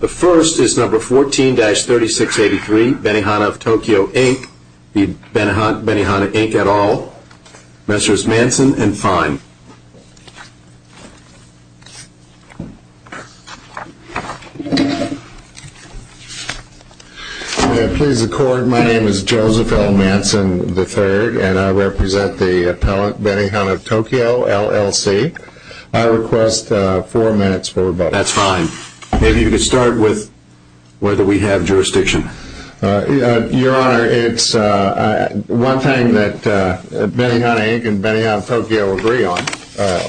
The first is number 14-3683 Benihana of Tokyo Inc, Benihana Inc et al, Messrs. Manson and Fine. May it please the court, my name is Joseph L. Manson III and I represent the appellate Benihana of Tokyo LLC. I request four minutes for rebuttal. That's fine. Maybe you could start with whether we have jurisdiction. Your Honor, it's one thing that Benihana Inc and Benihana of Tokyo agree on,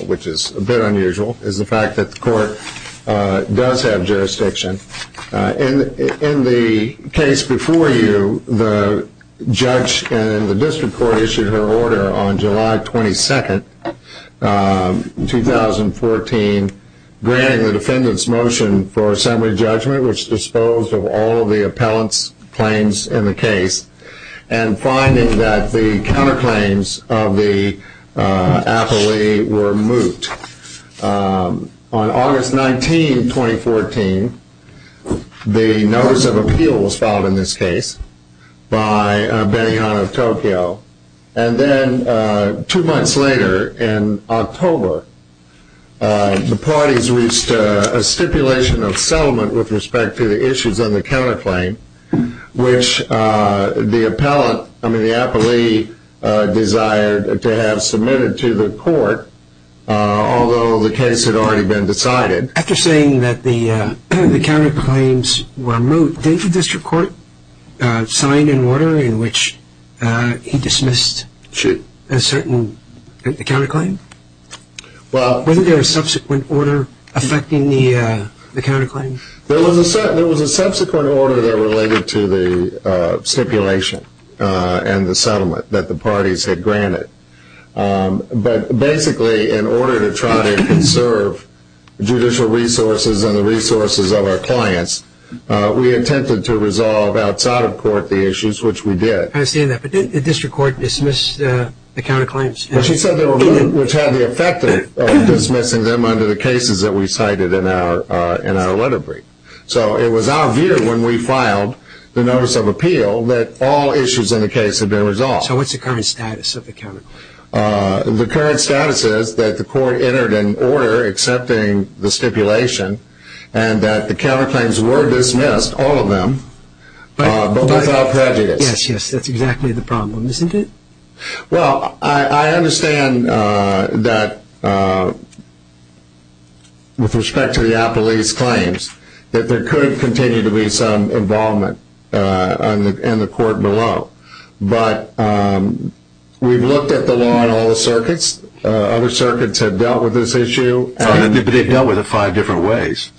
which is a bit unusual, is the fact that the court does have jurisdiction. In the case before you, the judge and the district court issued her order on July 22, 2014, granting the defendant's motion for assembly judgment, which disposed of all of the appellant's claims in the case, and finding that the counterclaims of the appellee were moot. On August 19, 2014, the notice of appeal was filed in this case by Benihana of Tokyo. Two months later, in October, the parties reached a stipulation of settlement with respect to the issues on the counterclaim, which the appellee desired to have submitted to the court, although the case had already been decided. After saying that the counterclaims were moot, did the district court sign an order in which he dismissed a certain counterclaim? Wasn't there a subsequent order affecting the counterclaim? There was a subsequent order that related to the stipulation and the settlement that the parties had granted. But basically, in order to try to conserve judicial resources and the resources of our clients, we attempted to resolve outside of court the issues, which we did. I understand that, but did the district court dismiss the counterclaims? Well, she said they were moot, which had the effect of dismissing them under the cases that we cited in our letter brief. So it was our view when we filed the notice of appeal that all issues in the case had been resolved. So what's the current status of the counterclaim? The current status is that the court entered an order accepting the stipulation, and that the counterclaims were dismissed, all of them, but without prejudice. Yes, yes, that's exactly the problem, isn't it? Well, I understand that, with respect to the appellee's claims, that there could continue to be some involvement in the court below. But we've looked at the law in all the circuits. Other circuits have dealt with this issue. But they've dealt with it in five different ways.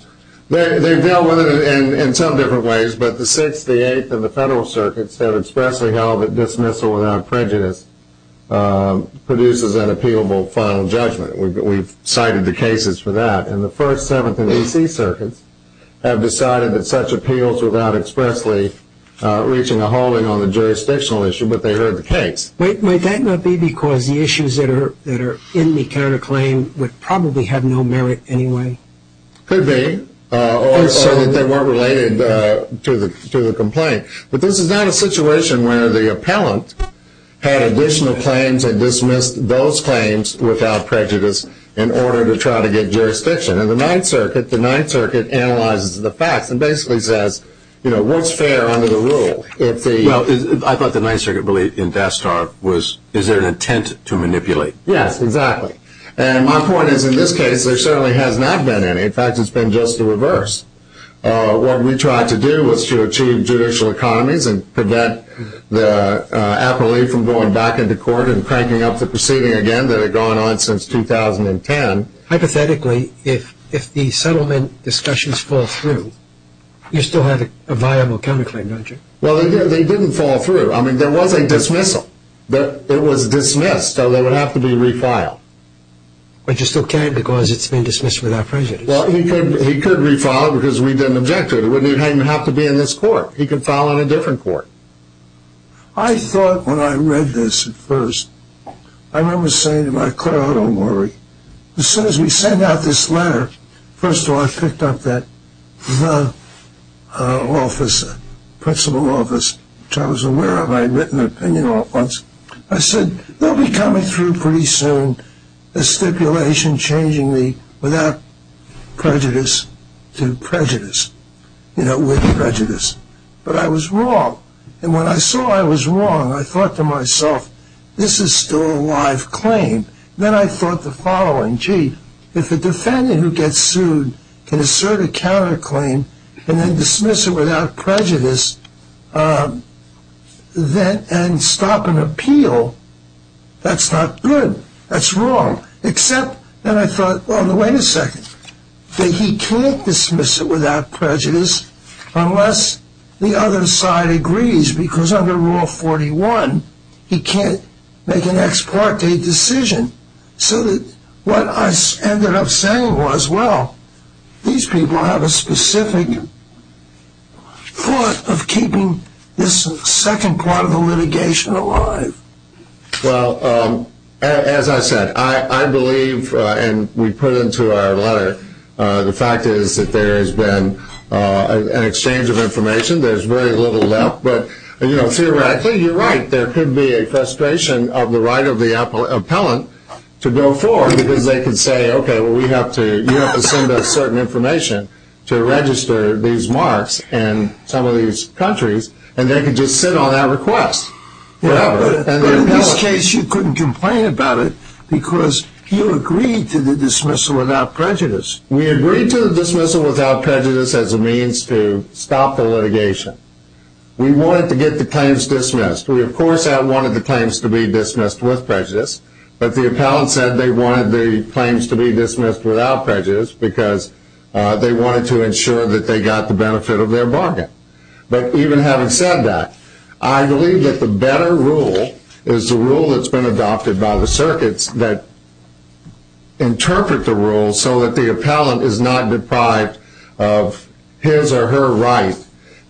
They've dealt with it in some different ways, but the 6th, the 8th, and the federal circuits have expressly held that dismissal without prejudice produces an appealable final judgment. We've cited the cases for that. And the 1st, 7th, and D.C. circuits have decided that such appeals without expressly reaching a holding on the jurisdictional issue, but they heard the case. Wait, might that not be because the issues that are in the counterclaim would probably have no merit anyway? Could be, or that they weren't related to the complaint. But this is not a situation where the appellant had additional claims and dismissed those claims without prejudice in order to try to get jurisdiction. In the 9th circuit, the 9th circuit analyzes the facts and basically says, you know, what's fair under the rule? Well, I thought the 9th circuit belief in DASTAR was, is there an intent to manipulate? Yes, exactly. And my point is, in this case, there certainly has not been any. In fact, it's been just the reverse. What we tried to do was to achieve judicial economies and prevent the appellee from going back into court and cranking up the proceeding again that had gone on since 2010. Hypothetically, if the settlement discussions fall through, you still have a viable counterclaim, don't you? Well, they didn't fall through. I mean, there was a dismissal. But it was dismissed, so they would have to be refiled. Which is okay because it's been dismissed without prejudice. Well, he could refile because we didn't object to it. It wouldn't even have to be in this court. He could file on a different court. I thought when I read this at first, I remember saying to my clerk, oh, don't worry. As soon as we sent out this letter, first of all, I picked up that the office, principal office, which I was aware of, I had written an opinion on it once. I said, they'll be coming through pretty soon, a stipulation changing the without prejudice to prejudice, you know, with prejudice. But I was wrong. And when I saw I was wrong, I thought to myself, this is still a live claim. Then I thought the following. Gee, if a defendant who gets sued can assert a counterclaim and then dismiss it without prejudice and stop an appeal, that's not good. That's wrong. Except that I thought, well, wait a second, that he can't dismiss it without prejudice unless the other side agrees. Because under Rule 41, he can't make an ex parte decision. So what I ended up saying was, well, these people have a specific thought of keeping this second part of the litigation alive. Well, as I said, I believe, and we put into our letter, the fact is that there has been an exchange of information. There's very little left. But, you know, theoretically, you're right. There could be a frustration of the right of the appellant to go forward because they can say, okay, well, we have to, you have to send us certain information to register these marks in some of these countries. And they can just sit on that request. Yeah, but in this case, you couldn't complain about it because you agreed to the dismissal without prejudice. We agreed to the dismissal without prejudice as a means to stop the litigation. We wanted to get the claims dismissed. We, of course, wanted the claims to be dismissed with prejudice. But the appellant said they wanted the claims to be dismissed without prejudice because they wanted to ensure that they got the benefit of their bargain. But even having said that, I believe that the better rule is the rule that's been adopted by the circuits that interpret the rules so that the appellant is not deprived of his or her right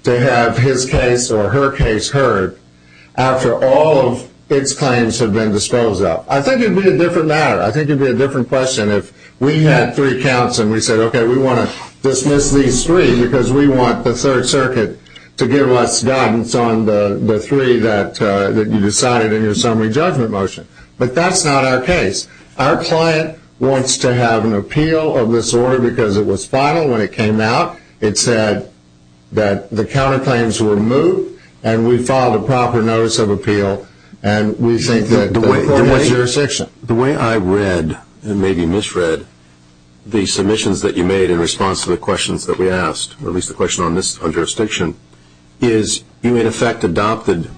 to have his case or her case heard after all of its claims have been disposed of. I think it would be a different matter. I think it would be a different question if we had three counts and we said, okay, we want to dismiss these three because we want the Third Circuit to give us guidance on the three that you decided in your summary judgment motion. But that's not our case. Our client wants to have an appeal of this order because it was final when it came out. It said that the counterclaims were moved and we filed a proper notice of appeal and we think that the court has jurisdiction. The way I read and maybe misread the submissions that you made in response to the questions that we asked, or at least the question on jurisdiction, is you in effect adopted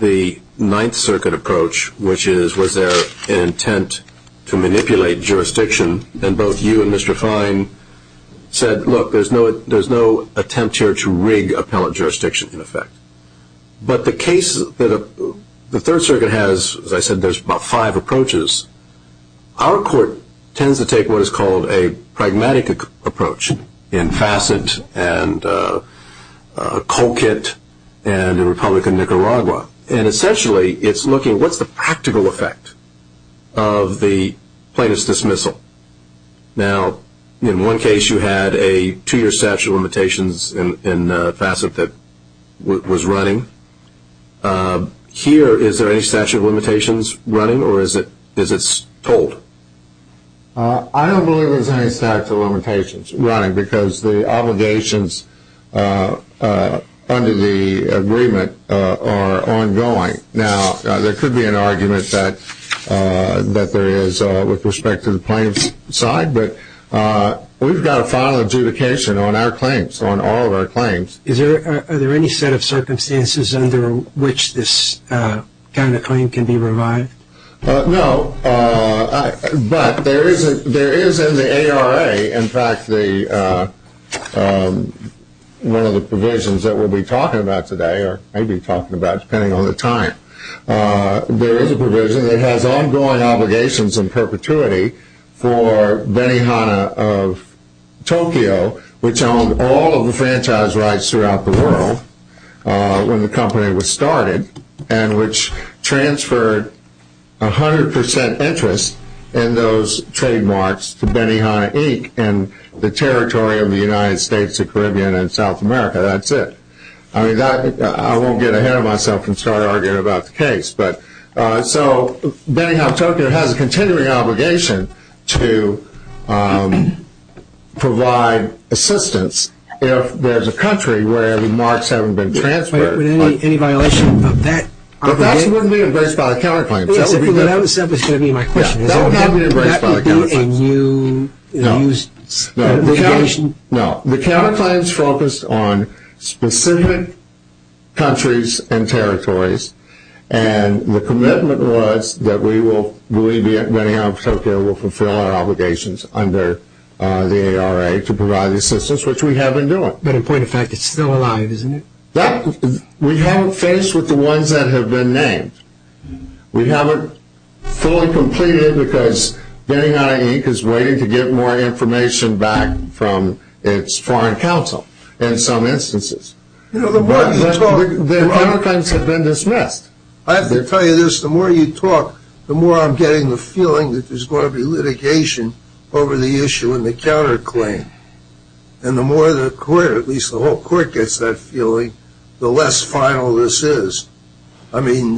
the Ninth Circuit approach, which is, was there an intent to manipulate jurisdiction? And both you and Mr. Fine said, look, there's no attempt here to rig appellant jurisdiction in effect. But the case that the Third Circuit has, as I said, there's about five approaches. Our court tends to take what is called a pragmatic approach in Fassett and Colquitt and the Republic of Nicaragua. And essentially it's looking, what's the practical effect of the plaintiff's dismissal? Now, in one case you had a two-year statute of limitations in Fassett that was running. Here, is there any statute of limitations running or is it told? I don't believe there's any statute of limitations running because the obligations under the agreement are ongoing. Now, there could be an argument that there is with respect to the plaintiff's side, but we've got a final adjudication on our claims, on all of our claims. Are there any set of circumstances under which this kind of claim can be revived? No, but there is in the ARA, in fact, one of the provisions that we'll be talking about today, or maybe talking about depending on the time, there is a provision that has ongoing obligations and perpetuity for Benihana of Tokyo, which owned all of the franchise rights throughout the world when the company was started and which transferred 100% interest in those trademarks to Benihana Inc. and the territory of the United States of the Caribbean and South America, that's it. I won't get ahead of myself and start arguing about the case. So, Benihana of Tokyo has a continuing obligation to provide assistance if there's a country where the marks haven't been transferred. Any violation of that obligation? But that wouldn't be embraced by the counterclaims. That was simply going to be my question. That would not be embraced by the counterclaims. That would be a new used obligation? No, the counterclaims focused on specific countries and territories and the commitment was that we will believe that Benihana of Tokyo will fulfill our obligations under the ARA to provide assistance, which we have been doing. But in point of fact, it's still alive, isn't it? We haven't finished with the ones that have been named. We haven't fully completed because Benihana Inc. is waiting to get more information back from its foreign counsel in some instances. The counterclaims have been dismissed. I have to tell you this, the more you talk, the more I'm getting the feeling that there's going to be litigation over the issue in the counterclaim. And the more the court, at least the whole court gets that feeling, the less final this is. I mean,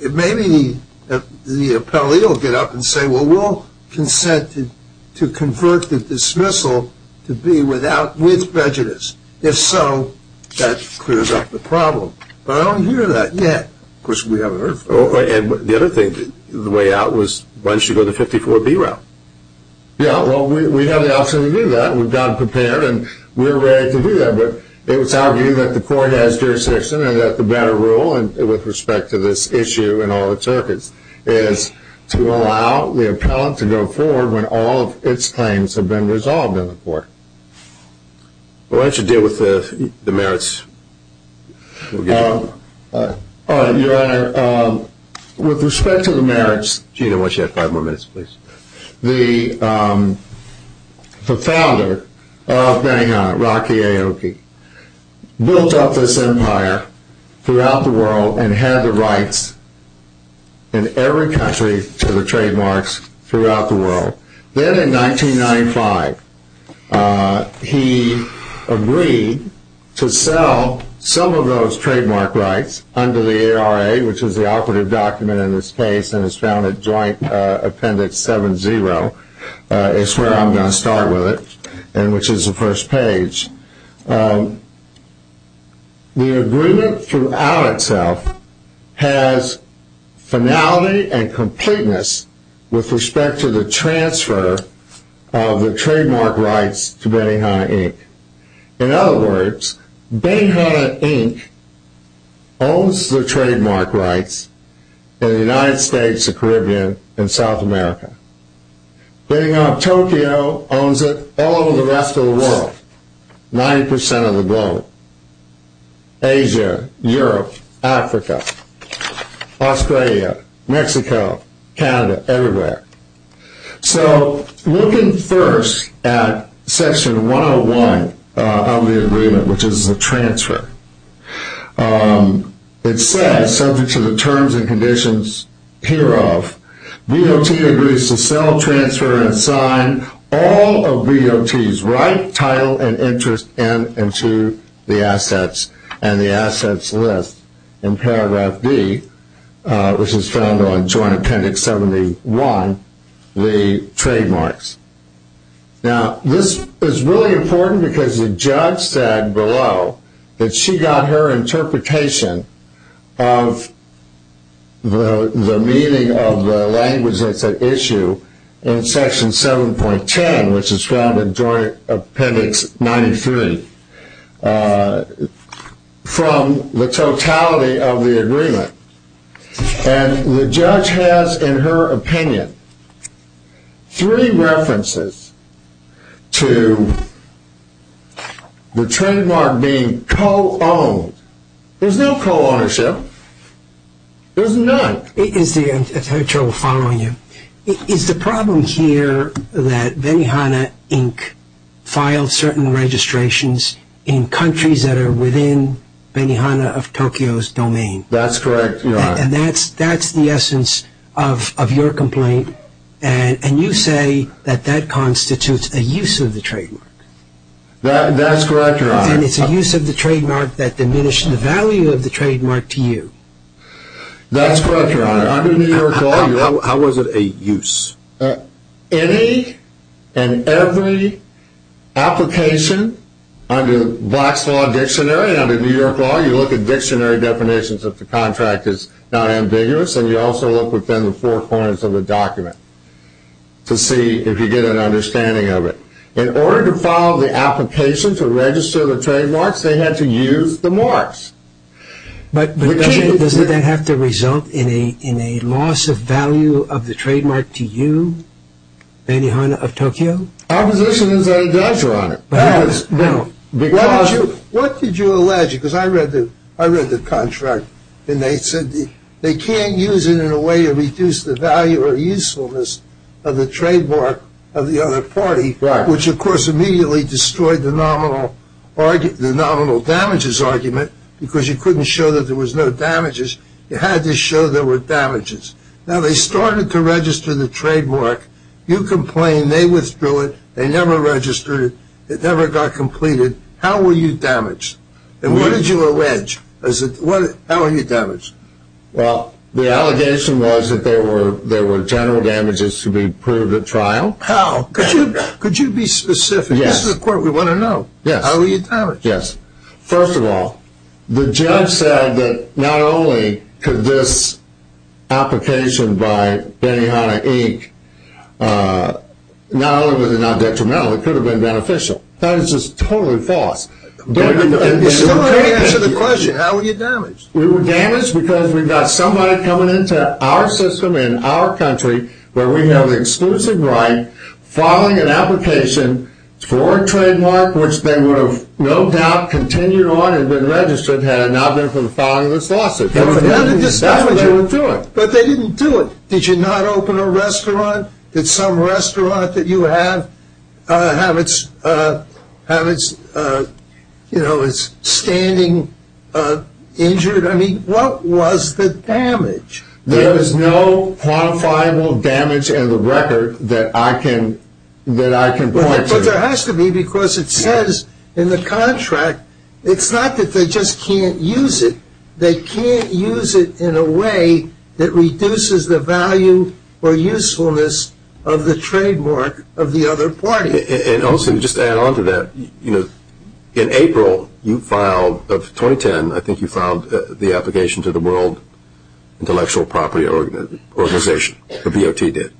maybe the appellee will get up and say, well, we'll consent to convert the dismissal to be with prejudice. If so, that clears up the problem. But I don't hear that yet, which we haven't heard from. And the other thing, the way out was why don't you go the 54B route? Yeah, well, we have the option to do that. We've got it prepared and we're ready to do that. But it was argued that the court has jurisdiction and that the better rule, with respect to this issue and all its circuits, is to allow the appellant to go forward when all of its claims have been resolved in the court. Why don't you deal with the merits? Your Honor, with respect to the merits, the founder of Benihana, Rocky Aoki, built up this empire throughout the world and had the rights in every country to the trademarks throughout the world. Then in 1995, he agreed to sell some of those trademark rights under the ARA, which is the operative document in this case and is found at Joint Appendix 7-0. It's where I'm going to start with it, which is the first page. The agreement throughout itself has finality and completeness with respect to the transfer of the trademark rights to Benihana, Inc. In other words, Benihana, Inc. owns the trademark rights in the United States, the Caribbean, and South America. Getting off Tokyo, owns it all over the rest of the world, 90% of the globe. Asia, Europe, Africa, Australia, Mexico, Canada, everywhere. Looking first at Section 101 of the agreement, which is the transfer, it says, subject to the terms and conditions hereof, VOT agrees to sell, transfer, and sign all of VOT's right, title, and interest into the assets and the assets list in paragraph D, which is found on Joint Appendix 71, the trademarks. Now, this is really important because the judge said below that she got her interpretation of the meaning of the language that's at issue in Section 7.10, which is found in Joint Appendix 93, from the totality of the agreement. And the judge has, in her opinion, three references to the trademark being co-owned. There's no co-ownership. There's none. Is the problem here that Benihana Inc. filed certain registrations in countries that are within Benihana of Tokyo's domain? That's correct, Your Honor. And that's the essence of your complaint, and you say that that constitutes a use of the trademark. That's correct, Your Honor. And it's a use of the trademark that diminished the value of the trademark to you. That's correct, Your Honor. Under New York law, how was it a use? Any and every application under Black's Law Dictionary, under New York law, you look at dictionary definitions of the contract is not ambiguous, and you also look within the four corners of the document to see if you get an understanding of it. In order to file the application to register the trademarks, they had to use the marks. But doesn't that have to result in a loss of value of the trademark to you, Benihana of Tokyo? Our position is that it does, Your Honor. What did you allege? Because I read the contract, and they said they can't use it in a way to reduce the value or usefulness of the trademark of the other party, which, of course, immediately destroyed the nominal damages argument, because you couldn't show that there was no damages. You had to show there were damages. Now, they started to register the trademark. You complained. They withdrew it. They never registered it. It never got completed. How were you damaged? And what did you allege? How were you damaged? Well, the allegation was that there were general damages to be proved at trial. How? Could you be specific? Yes. This is a court we want to know. Yes. How were you damaged? Yes. First of all, the judge said that not only could this application by Benihana Inc. not only was it not detrimental, it could have been beneficial. That is just totally false. We still want to answer the question, how were you damaged? We were damaged because we've got somebody coming into our system in our country where we have the exclusive right, filing an application for a trademark which they would have no doubt continued on and been registered had it not been for the filing of this lawsuit. But they didn't do it. Did you not open a restaurant? Did some restaurant that you have have its standing injured? I mean, what was the damage? There is no quantifiable damage in the record that I can point to. But there has to be because it says in the contract, it's not that they just can't use it. They can't use it in a way that reduces the value or usefulness of the trademark of the other party. And also, just to add on to that, in April of 2010, I think you filed the application to the World Intellectual Property Organization. The VOT did.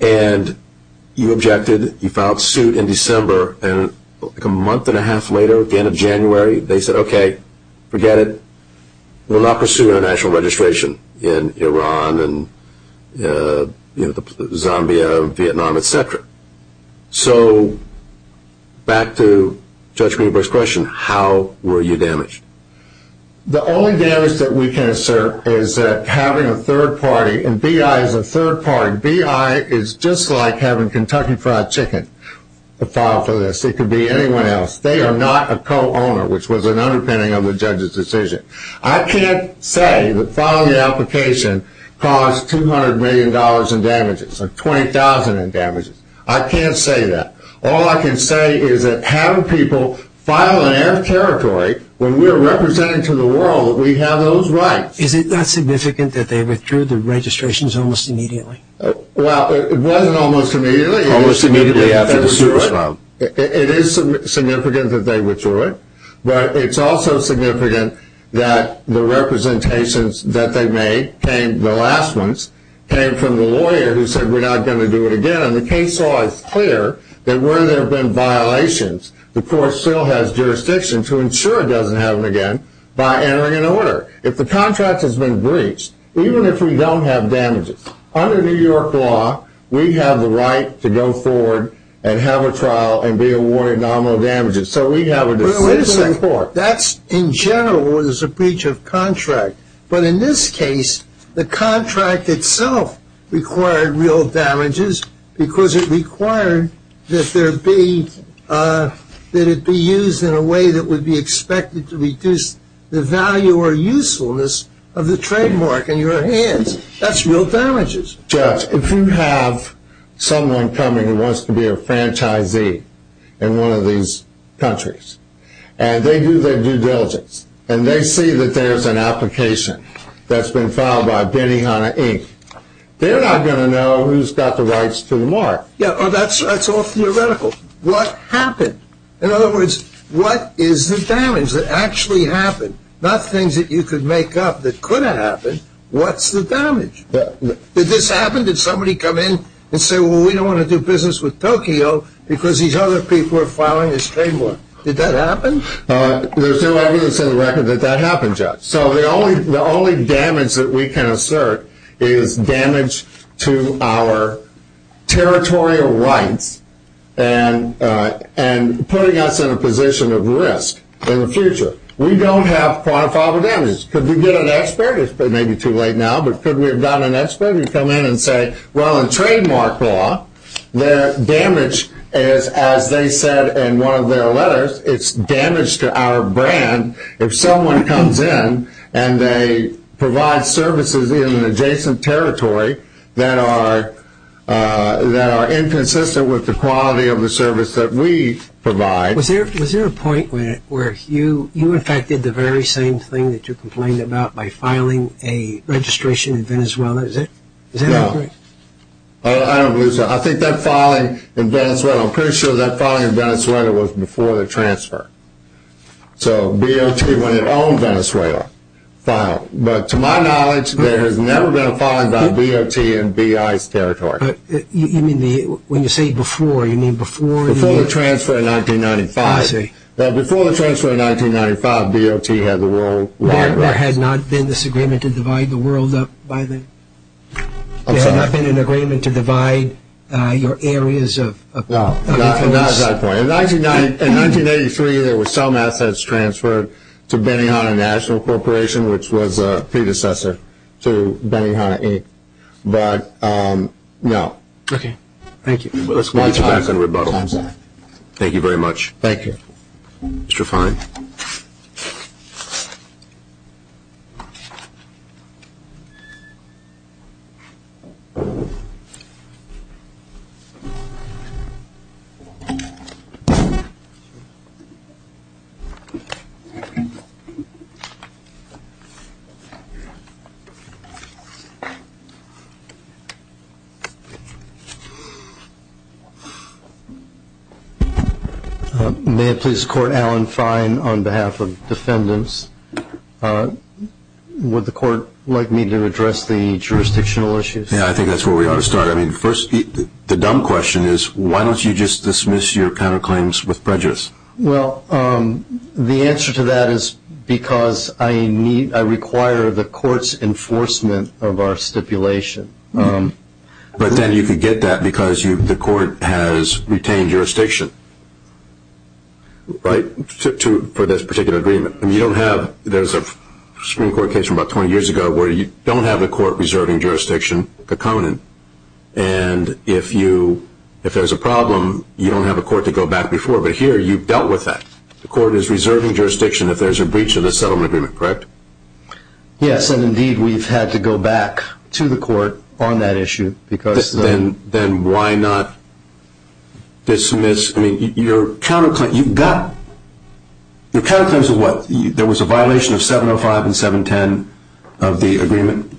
And you objected. You filed suit in December, and a month and a half later, again in January, they said, okay, forget it. We'll not pursue international registration in Iran and Zambia, Vietnam, et cetera. So back to Judge Greenberg's question, how were you damaged? The only damage that we can assert is that having a third party, and BI is a third party. BI is just like having Kentucky Fried Chicken filed for this. It could be anyone else. They are not a co-owner, which was an underpinning of the judge's decision. I can't say that filing the application caused $200 million in damages or $20,000 in damages. I can't say that. All I can say is that having people file in their territory, when we're representing to the world, we have those rights. Is it not significant that they withdrew the registrations almost immediately? Well, it wasn't almost immediately. Almost immediately after the suit was filed. It is significant that they withdrew it, but it's also significant that the representations that they made, the last ones, came from the lawyer who said we're not going to do it again, and the case law is clear that where there have been violations, the court still has jurisdiction to ensure it doesn't happen again by entering an order. If the contract has been breached, even if we don't have damages, under New York law, we have the right to go forward and have a trial and be awarded nominal damages. So we have a decision to report. Wait a second. That's in general when there's a breach of contract, but in this case, the contract itself required real damages because it required that it be used in a way that would be expected to reduce the value or usefulness of the trademark in your hands. That's real damages. Judge, if you have someone coming who wants to be a franchisee in one of these countries, and they do their due diligence, and they see that there's an application that's been filed by Benihana Inc., they're not going to know who's got the rights to the mark. Yeah, that's all theoretical. What happened? In other words, what is the damage that actually happened? Not things that you could make up that could have happened. What's the damage? Did this happen? Did somebody come in and say, well, we don't want to do business with Tokyo because these other people are filing this trademark? Did that happen? There's no evidence in the record that that happened, Judge. So the only damage that we can assert is damage to our territorial rights and putting us in a position of risk in the future. We don't have quantifiable damages. Could we get an expert? It may be too late now, but could we have gotten an expert to come in and say, well, in trademark law, their damage is, as they said in one of their letters, it's damage to our brand if someone comes in and they provide services in an adjacent territory that are inconsistent with the quality of the service that we provide. Was there a point where you, in fact, did the very same thing that you complained about by filing a registration in Venezuela? Is that correct? No. I don't believe so. I think that filing in Venezuela, I'm pretty sure that filing in Venezuela was before the transfer. So BOT, when it owned Venezuela, filed. But to my knowledge, there has never been a filing by BOT in B.I.'s territory. When you say before, you mean before? Before the transfer in 1995. I see. Before the transfer in 1995, BOT had the role. There had not been this agreement to divide the world up by then? I'm sorry. There had not been an agreement to divide your areas of influence? No, not at that point. In 1983, there were some assets transferred to Benihana National Corporation, which was a predecessor to Benihana Inc. But no. Okay. Thank you. Let's get back on rebuttal. Thank you very much. Thank you. Mr. Fine. May I please court Alan Fine on behalf of defendants? Would the court like me to address the jurisdictional issues? Yeah, I think that's where we ought to start. I mean, first, the dumb question is, why don't you just dismiss your counterclaims with prejudice? Well, the answer to that is because I require the court's enforcement of our stipulation. But then you could get that because the court has retained jurisdiction, right, for this particular agreement. I mean, you don't have – there's a Supreme Court case from about 20 years ago where you don't have a court reserving jurisdiction to Conan. And if there's a problem, you don't have a court to go back before. But here you've dealt with that. The court is reserving jurisdiction if there's a breach of this settlement agreement, correct? Yes, and indeed we've had to go back to the court on that issue because the – Then why not dismiss – I mean, your counterclaims – you've got – your counterclaims are what? There was a violation of 705 and 710 of the agreement?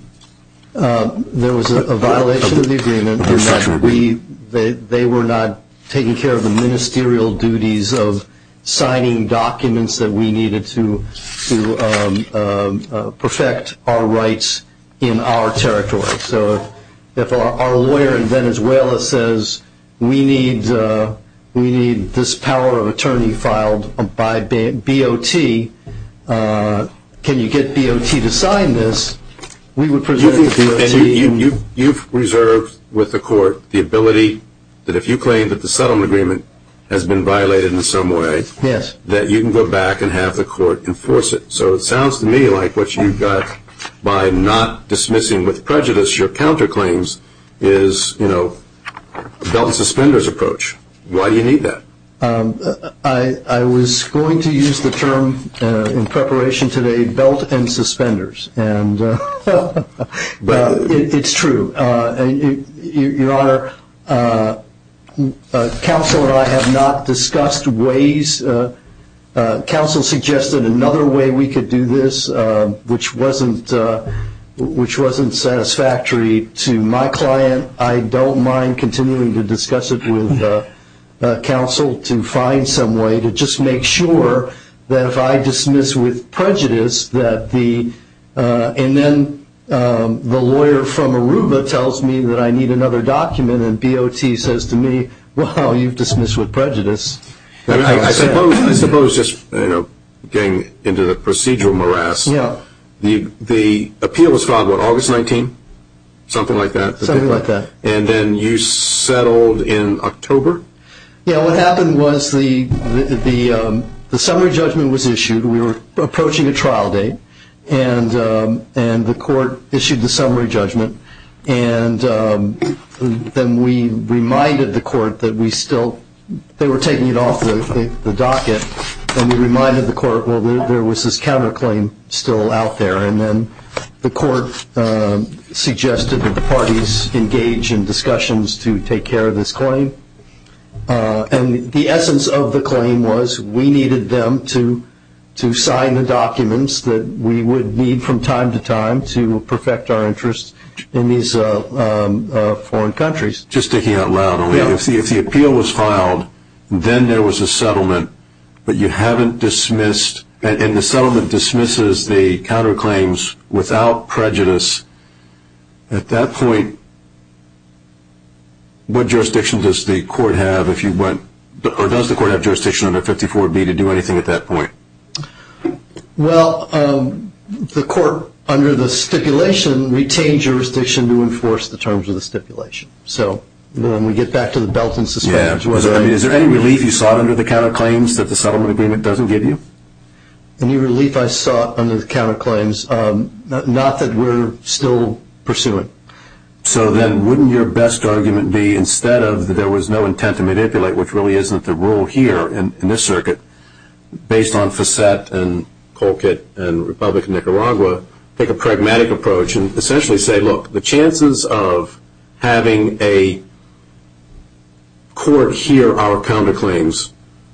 There was a violation of the agreement in that we – they were not taking care of the ministerial duties of signing documents that we needed to perfect our rights in our territory. So if our lawyer in Venezuela says we need this power of attorney filed by BOT, can you get BOT to sign this, we would presume that BOT – You've reserved with the court the ability that if you claim that the settlement agreement has been violated in some way, that you can go back and have the court enforce it. So it sounds to me like what you've got by not dismissing with prejudice your counterclaims is, you know, a belt and suspenders approach. Why do you need that? I was going to use the term in preparation today, belt and suspenders, and it's true. Your Honor, counsel and I have not discussed ways – counsel suggested another way we could do this which wasn't satisfactory to my client. I don't mind continuing to discuss it with counsel to find some way to just make sure that if I dismiss with prejudice that the – and then the lawyer from Aruba tells me that I need another document and BOT says to me, well, you've dismissed with prejudice. I suppose just, you know, getting into the procedural morass, the appeal was filed on August 19th, something like that? Something like that. And then you settled in October? Yeah, what happened was the summary judgment was issued. We were approaching a trial date, and the court issued the summary judgment, and then we reminded the court that we still – they were taking it off the docket, and we reminded the court, well, there was this counterclaim still out there, and then the court suggested that the parties engage in discussions to take care of this claim. And the essence of the claim was we needed them to sign the documents that we would need from time to time to perfect our interests in these foreign countries. Just sticking out loud, if the appeal was filed, then there was a settlement, but you haven't dismissed – and the settlement dismisses the counterclaims without prejudice. At that point, what jurisdiction does the court have if you went – or does the court have jurisdiction under 54B to do anything at that point? Well, the court, under the stipulation, retained jurisdiction to enforce the terms of the stipulation. So then we get back to the belt and suspension. Is there any relief you sought under the counterclaims that the settlement agreement doesn't give you? Any relief I sought under the counterclaims? Not that we're still pursuing. So then wouldn't your best argument be, instead of there was no intent to manipulate, which really isn't the rule here in this circuit, based on Facette and Colquitt and Republic of Nicaragua, take a pragmatic approach and essentially say, look, the chances of having a court hear our counterclaims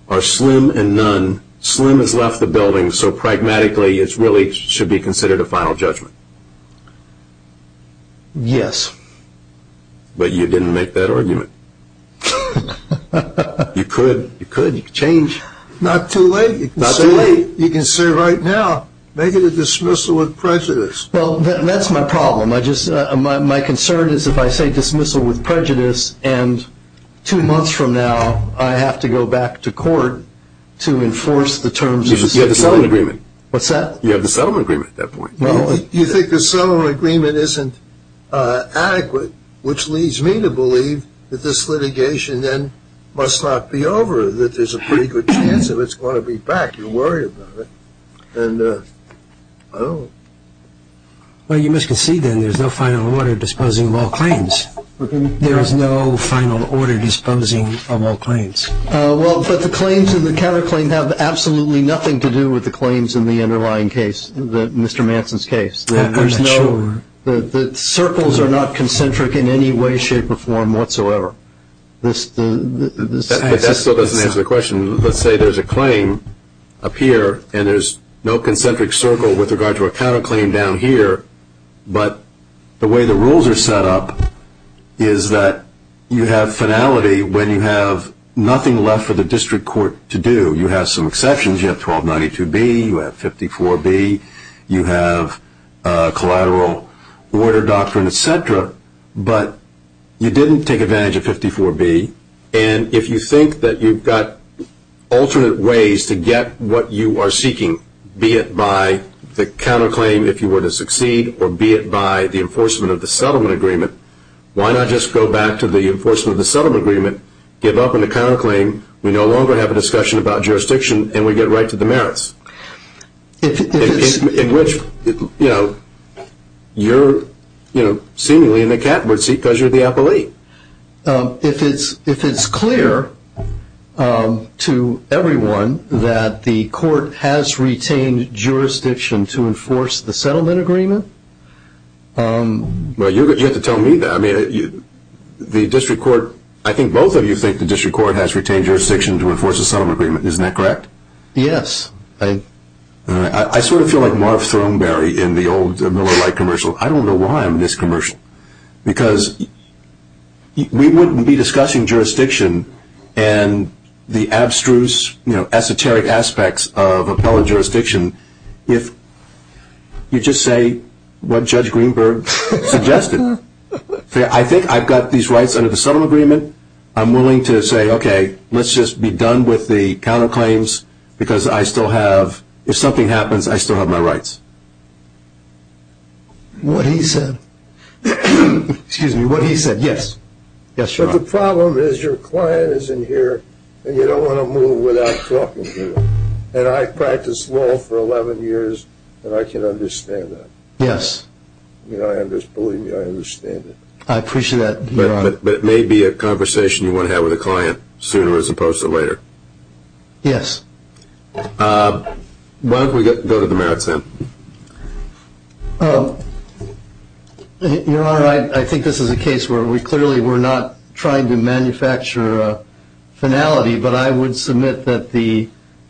are slim and none. Slim has left the building, so pragmatically it really should be considered a final judgment. Yes. But you didn't make that argument. You could. You could. You could change. Not too late. Not too late. You can say right now, make it a dismissal with prejudice. Well, that's my problem. My concern is if I say dismissal with prejudice and two months from now I have to go back to court to enforce the terms of the stipulation. You have the settlement agreement. What's that? You have the settlement agreement at that point. Well, you think the settlement agreement isn't adequate, which leads me to believe that this litigation then must not be over, that there's a pretty good chance of it's going to be back. You're worried about it. And I don't know. Well, you must concede then there's no final order disposing of all claims. There is no final order disposing of all claims. Well, but the claims in the counterclaim have absolutely nothing to do with the claims in the underlying case, Mr. Manson's case. I'm not sure. The circles are not concentric in any way, shape or form whatsoever. But that still doesn't answer the question. Let's say there's a claim up here and there's no concentric circle with regard to a counterclaim down here, but the way the rules are set up is that you have finality when you have nothing left for the district court to do. You have some exceptions. You have 1292B. You have 54B. You have collateral order doctrine, et cetera. But you didn't take advantage of 54B. And if you think that you've got alternate ways to get what you are seeking, be it by the counterclaim, if you were to succeed, or be it by the enforcement of the settlement agreement, why not just go back to the enforcement of the settlement agreement, give up on the counterclaim, we no longer have a discussion about jurisdiction, and we get right to the merits? In which, you know, you're seemingly in the catbird seat because you're the appellee. If it's clear to everyone that the court has retained jurisdiction to enforce the settlement agreement. Well, you have to tell me that. I mean, the district court, I think both of you think the district court has retained jurisdiction to enforce the settlement agreement. Isn't that correct? Yes. I sort of feel like Marv Throneberry in the old Miller Lite commercial. I don't know why I'm in this commercial. Because we wouldn't be discussing jurisdiction and the abstruse, you know, esoteric aspects of appellate jurisdiction if you just say what Judge Greenberg suggested. I think I've got these rights under the settlement agreement. I'm willing to say, okay, let's just be done with the counterclaims because I still have, if something happens, I still have my rights. What he said. Excuse me, what he said, yes. Yes, Your Honor. But the problem is your client is in here and you don't want to move without talking to him. And I've practiced law for 11 years and I can understand that. Yes. Believe me, I understand that. I appreciate that, Your Honor. But it may be a conversation you want to have with a client sooner as opposed to later. Yes. Why don't we go to the merits then? Your Honor, I think this is a case where we clearly were not trying to manufacture a finality, but I would submit that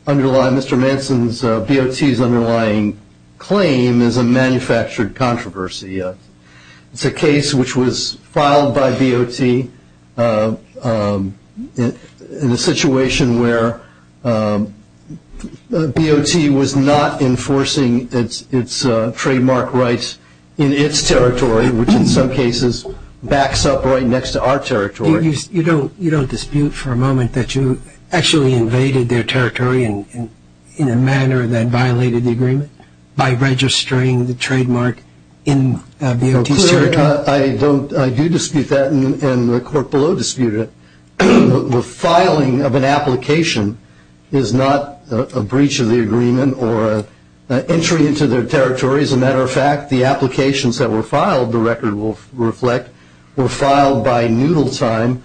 Mr. Manson's BOT's underlying claim is a manufactured controversy. It's a case which was filed by BOT in a situation where BOT was not enforcing its trademark rights in its territory, which in some cases backs up right next to our territory. You don't dispute for a moment that you actually invaded their territory in a manner that violated the agreement by registering the trademark in BOT's territory? I do dispute that and the court below disputed it. The filing of an application is not a breach of the agreement or an entry into their territory. As a matter of fact, the applications that were filed, the record will reflect, were filed by Noodle Time,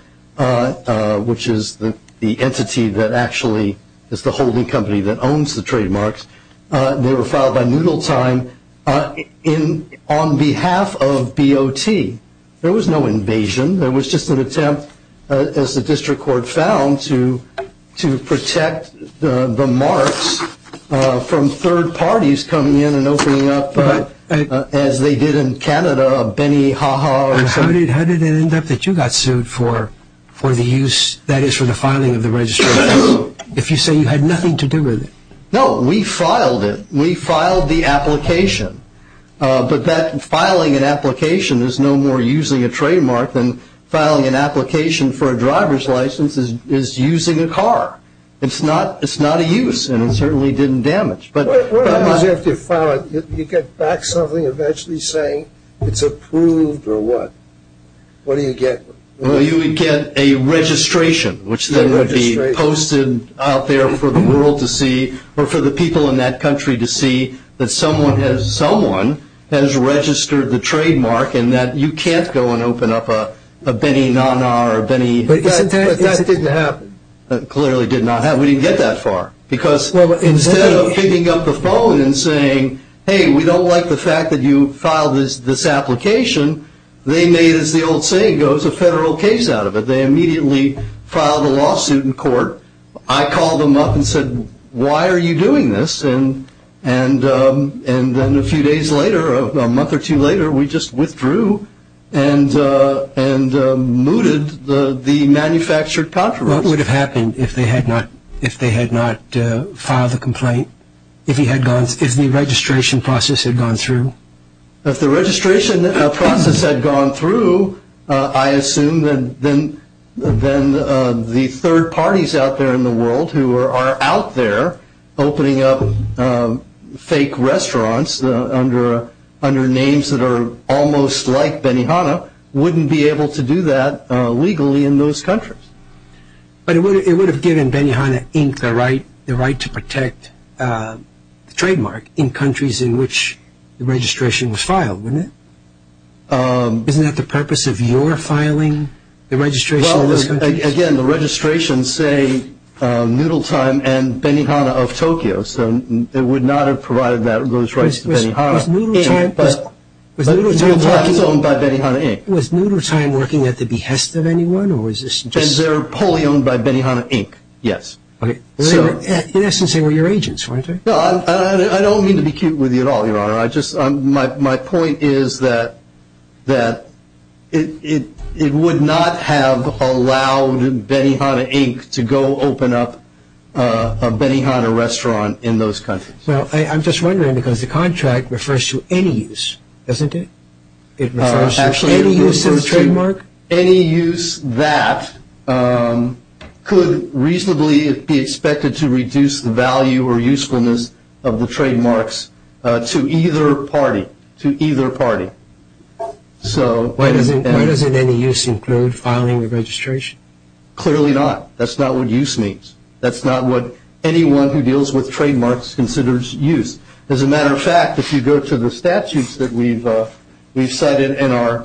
which is the entity that actually is the holding company that owns the trademarks. They were filed by Noodle Time on behalf of BOT. There was no invasion. There was just an attempt, as the district court found, to protect the marks from third parties coming in and opening up, as they did in Canada, Benny Ha Ha. How did it end up that you got sued for the use, that is for the filing of the registrations, if you say you had nothing to do with it? No, we filed it. We filed the application, but that filing an application is no more using a trademark than filing an application for a driver's license is using a car. It's not a use and it certainly didn't damage. What happens after you file it? You get back something eventually saying it's approved or what? What do you get? Well, you would get a registration, which then would be posted out there for the world to see or for the people in that country to see that someone has registered the trademark and that you can't go and open up a Benny Na Na or Benny. But that didn't happen. It clearly did not happen. We didn't get that far because instead of picking up the phone and saying, hey, we don't like the fact that you filed this application, they made, as the old saying goes, a federal case out of it. They immediately filed a lawsuit in court. I called them up and said, why are you doing this? And then a few days later, a month or two later, we just withdrew and mooted the manufactured copyrights. What would have happened if they had not filed the complaint, if the registration process had gone through? If the registration process had gone through, I assume then the third parties out there in the world who are out there opening up fake restaurants under names that are almost like Benny Hanna wouldn't be able to do that legally in those countries. But it would have given Benny Hanna Inc. the right to protect the trademark in countries in which the registration was filed, wouldn't it? Isn't that the purpose of your filing the registration in those countries? Well, again, the registrations say Noodle Time and Benny Hanna of Tokyo, so it would not have provided those rights to Benny Hanna. Was Noodle Time working at the behest of anyone? Benzero Polly owned by Benny Hanna Inc., yes. In essence, they were your agents, weren't they? I don't mean to be cute with you at all, Your Honor. My point is that it would not have allowed Benny Hanna Inc. to go open up a Benny Hanna restaurant in those countries. I'm just wondering because the contract refers to any use, doesn't it? It refers to any use of the trademark? Any use that could reasonably be expected to reduce the value or usefulness of the trademarks to either party. Why doesn't any use include filing the registration? Clearly not. That's not what use means. That's not what anyone who deals with trademarks considers use. As a matter of fact, if you go to the statutes that we've cited in our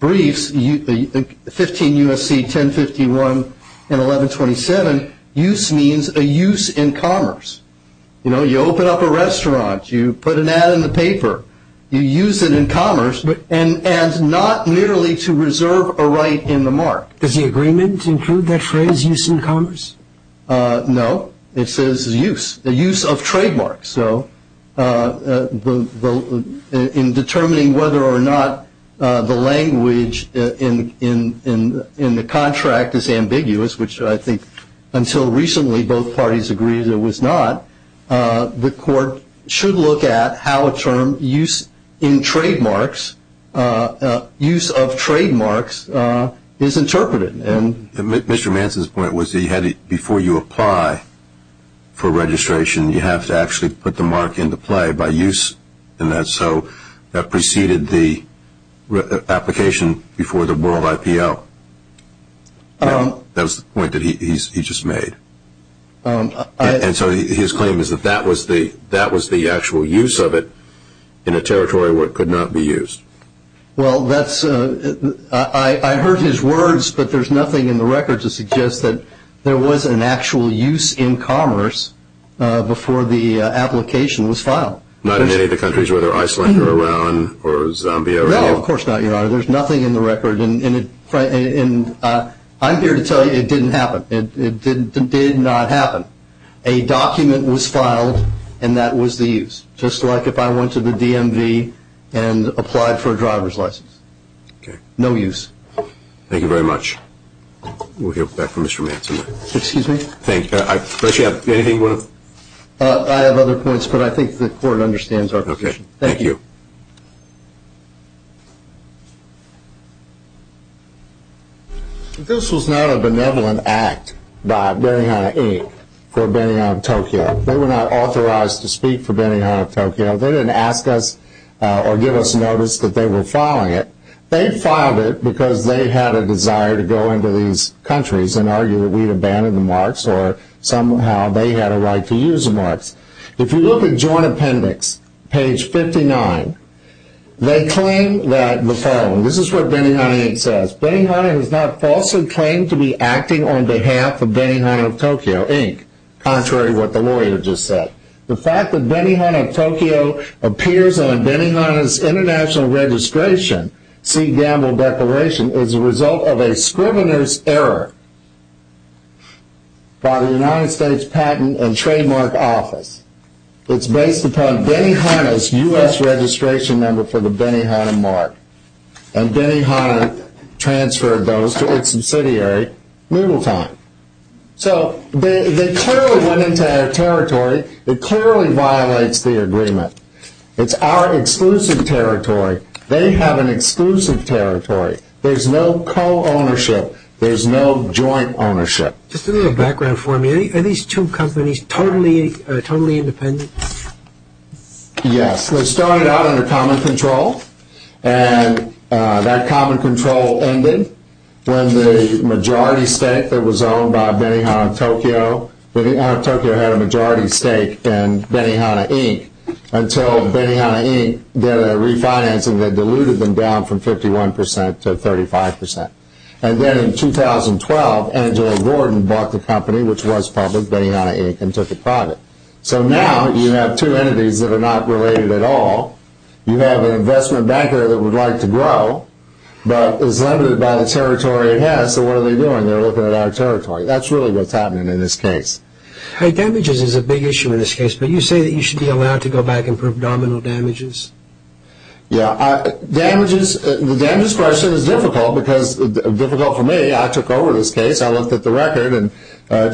briefs, 15 U.S.C. 1051 and 1127, use means a use in commerce. You know, you open up a restaurant, you put an ad in the paper, you use it in commerce and not merely to reserve a right in the mark. Does the agreement include that phrase, use in commerce? No. It says use, the use of trademarks. So in determining whether or not the language in the contract is ambiguous, which I think until recently both parties agreed it was not, the court should look at how a term use in trademarks, use of trademarks, is interpreted. Mr. Manson's point was before you apply for registration, you have to actually put the mark into play by use in that. So that preceded the application before the world IPO. That was the point that he just made. And so his claim is that that was the actual use of it in a territory where it could not be used. Well, I heard his words, but there's nothing in the record to suggest that there was an actual use in commerce before the application was filed. Not in any of the countries, whether Iceland or Iran or Zambia. No, of course not, Your Honor. There's nothing in the record, and I'm here to tell you it didn't happen. It did not happen. A document was filed, and that was the use. Just like if I went to the DMV and applied for a driver's license. Okay. No use. Thank you very much. We'll hear back from Mr. Manson. Excuse me? I appreciate it. Anything you want to? I have other points, but I think the court understands our position. Okay. Thank you. This was not a benevolent act by Benihana, Inc. for Benihana, Tokyo. They were not authorized to speak for Benihana, Tokyo. They didn't ask us or give us notice that they were filing it. They filed it because they had a desire to go into these countries and argue that we had abandoned the marks, or somehow they had a right to use the marks. If you look at Joint Appendix, page 59, they claim that the following, this is what Benihana, Inc. says, Benihana has not falsely claimed to be acting on behalf of Benihana, Tokyo, Inc., contrary to what the lawyer just said. The fact that Benihana, Tokyo, appears on Benihana's international registration, Sea Gamble Declaration, is a result of a scrivener's error by the United States Patent and Trademark Office. It's based upon Benihana's U.S. registration number for the Benihana mark, and Benihana transferred those to its subsidiary, Moodle Time. So, they clearly went into our territory. It clearly violates the agreement. It's our exclusive territory. They have an exclusive territory. There's no co-ownership. There's no joint ownership. Just a little background for me. Are these two companies totally independent? Yes. They started out under common control, and that common control ended when the majority stake that was owned by Benihana, Tokyo, Benihana, Tokyo had a majority stake in Benihana, Inc., until Benihana, Inc. did a refinancing that diluted them down from 51% to 35%. And then in 2012, Angela Gordon bought the company, which was public, Benihana, Inc., and took it private. So now, you have two entities that are not related at all. You have an investment banker that would like to grow, but is limited by the territory it has. So what are they doing? They're looking at our territory. That's really what's happening in this case. Hey, damages is a big issue in this case, but you say that you should be allowed to go back and prove nominal damages. Yeah. The damages question is difficult, because difficult for me. I took over this case. I looked at the record, and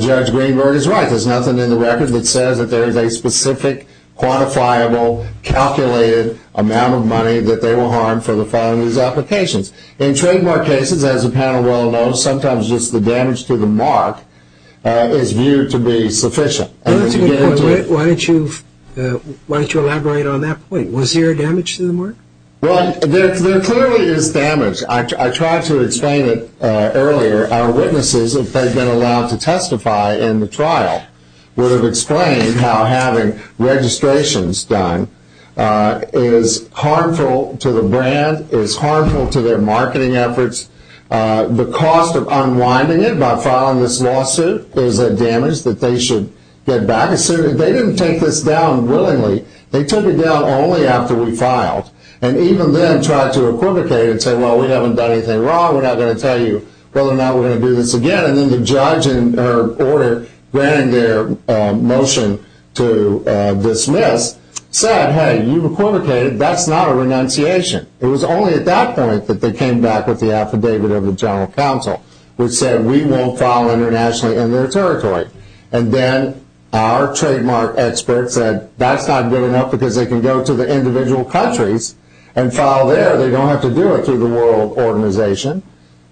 Judge Greenberg is right. There's nothing in the record that says that there is a specific, quantifiable, calculated amount of money that they will harm for the filing of these applications. In trademark cases, as the panel well knows, sometimes just the damage to the mark is viewed to be sufficient. That's a good point. Why don't you elaborate on that point? Was there damage to the mark? Well, there clearly is damage. I tried to explain it earlier. Our witnesses, if they'd been allowed to testify in the trial, would have explained how having registrations done is harmful to the brand, is harmful to their marketing efforts. The cost of unwinding it by filing this lawsuit is a damage that they should get back. They didn't take this down willingly. They took it down only after we filed, and even then tried to equivocate and say, well, we haven't done anything wrong. We're not going to tell you whether or not we're going to do this again. Then the judge in her order granting their motion to dismiss said, hey, you equivocated. That's not a renunciation. It was only at that point that they came back with the affidavit of the general counsel, which said we won't file internationally in their territory. Then our trademark experts said that's not good enough because they can go to the individual countries and file there. They don't have to do it through the World Organization.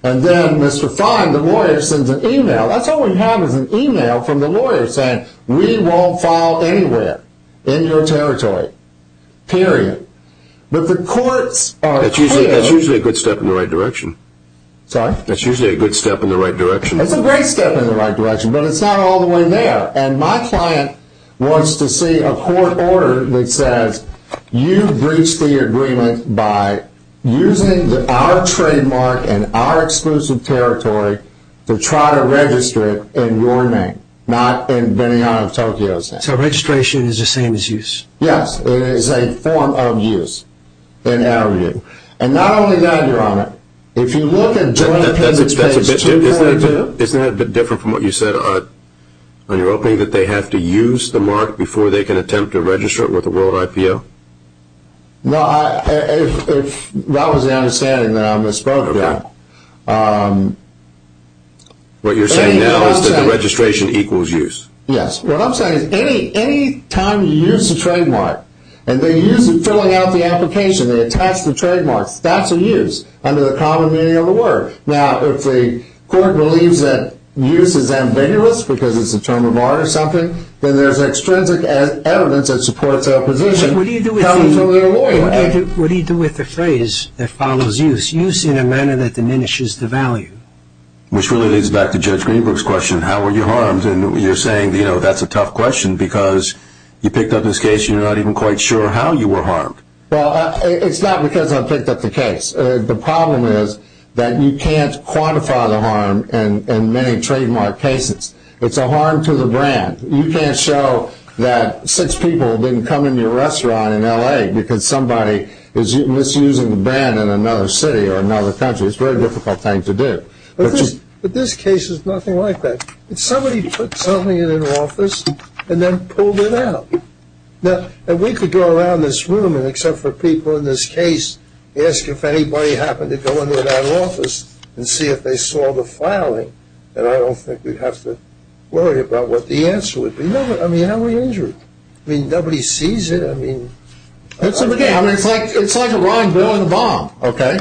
Then Mr. Fine, the lawyer, sends an email. That's all we have is an email from the lawyer saying we won't file anywhere in your territory, period. But the courts are clear. That's usually a good step in the right direction. Sorry? That's usually a good step in the right direction. It's a great step in the right direction, but it's not all the way there. My client wants to see a court order that says you breached the agreement by using our trademark and our exclusive territory to try to register it in your name, not in Benigno of Tokyo's name. So registration is the same as use? Yes. It is a form of use in our view. And not only that, Your Honor, if you look at joint appendix page 2.0. Isn't that a bit different from what you said on your opening, that they have to use the mark before they can attempt to register it with the World IPO? No, that was the understanding that I misspoke there. What you're saying now is that the registration equals use? Yes. What I'm saying is any time you use a trademark and they use it filling out the application, they attach the trademark, that's a use under the common meaning of the word. Now, if the court believes that use is ambiguous because it's a term of honor or something, then there's extrinsic evidence that supports their position. What do you do with the phrase that follows use, use in a manner that diminishes the value? Which really leads back to Judge Greenberg's question, how were you harmed? And you're saying that's a tough question because you picked up this case and you're not even quite sure how you were harmed. Well, it's not because I picked up the case. The problem is that you can't quantify the harm in many trademark cases. It's a harm to the brand. You can't show that six people didn't come into your restaurant in L.A. because somebody is misusing the brand in another city or another country. It's a very difficult thing to do. But this case is nothing like that. Somebody put something in an office and then pulled it out. Now, we could go around this room and except for people in this case, ask if anybody happened to go into that office and see if they saw the filing, and I don't think we'd have to worry about what the answer would be. No, but I mean, how were you injured? I mean, nobody sees it. I mean, it's like a Ron Billing bomb, okay?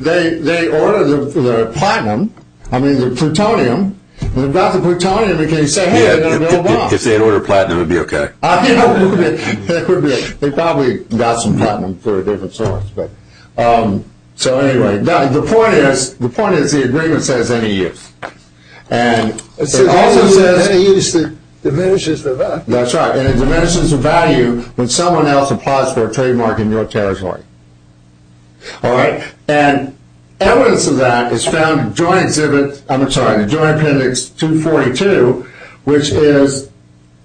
They ordered the platinum, I mean, the plutonium. They've got the plutonium and they say, hey, they're going to bomb. If they had ordered platinum, it would be okay. It would be okay. They probably got some platinum for a different source. So anyway, the point is the agreement says any use. It also says any use diminishes the value. That's right, and it diminishes the value when someone else applies for a trademark in your territory. And evidence of that is found in Joint Appendix 242, which is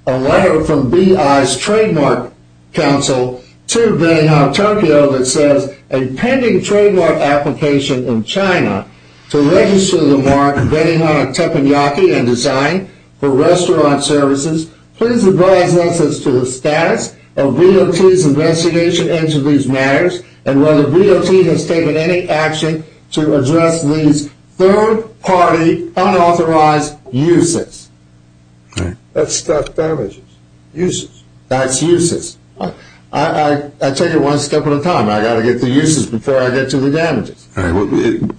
a letter from BI's Trademark Council to Benihana Tokyo that says, a pending trademark application in China to register the mark Benihana Teppanyaki and design for restaurant services. Please advise us as to the status of BOT's investigation into these matters and whether BOT has taken any action to address these third-party unauthorized uses. That's not damages. Uses. That's uses. I take it one step at a time. I've got to get to the uses before I get to the damages.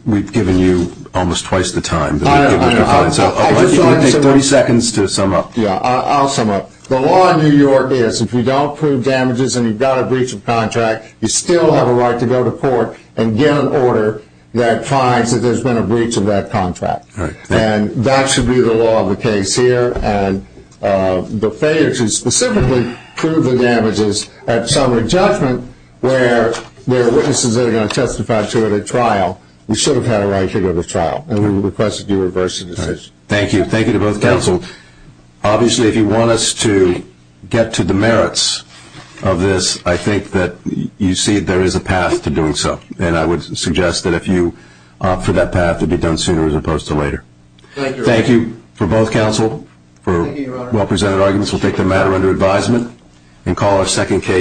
We've given you almost twice the time. It would take 30 seconds to sum up. I'll sum up. The law in New York is if you don't prove damages and you've got a breach of contract, you still have a right to go to court and get an order that finds that there's been a breach of that contract. And that should be the law of the case here. And the failure to specifically prove the damages at summary judgment where there are witnesses that are going to testify to it at trial, you should have had a right to go to trial. And we would request that you reverse the decision. Thank you. Thank you to both counsel. Obviously, if you want us to get to the merits of this, I think that you see there is a path to doing so. And I would suggest that if you opt for that path, it would be done sooner as opposed to later. Thank you for both counsel for well-presented arguments. We'll take the matter under advisement and call our second case.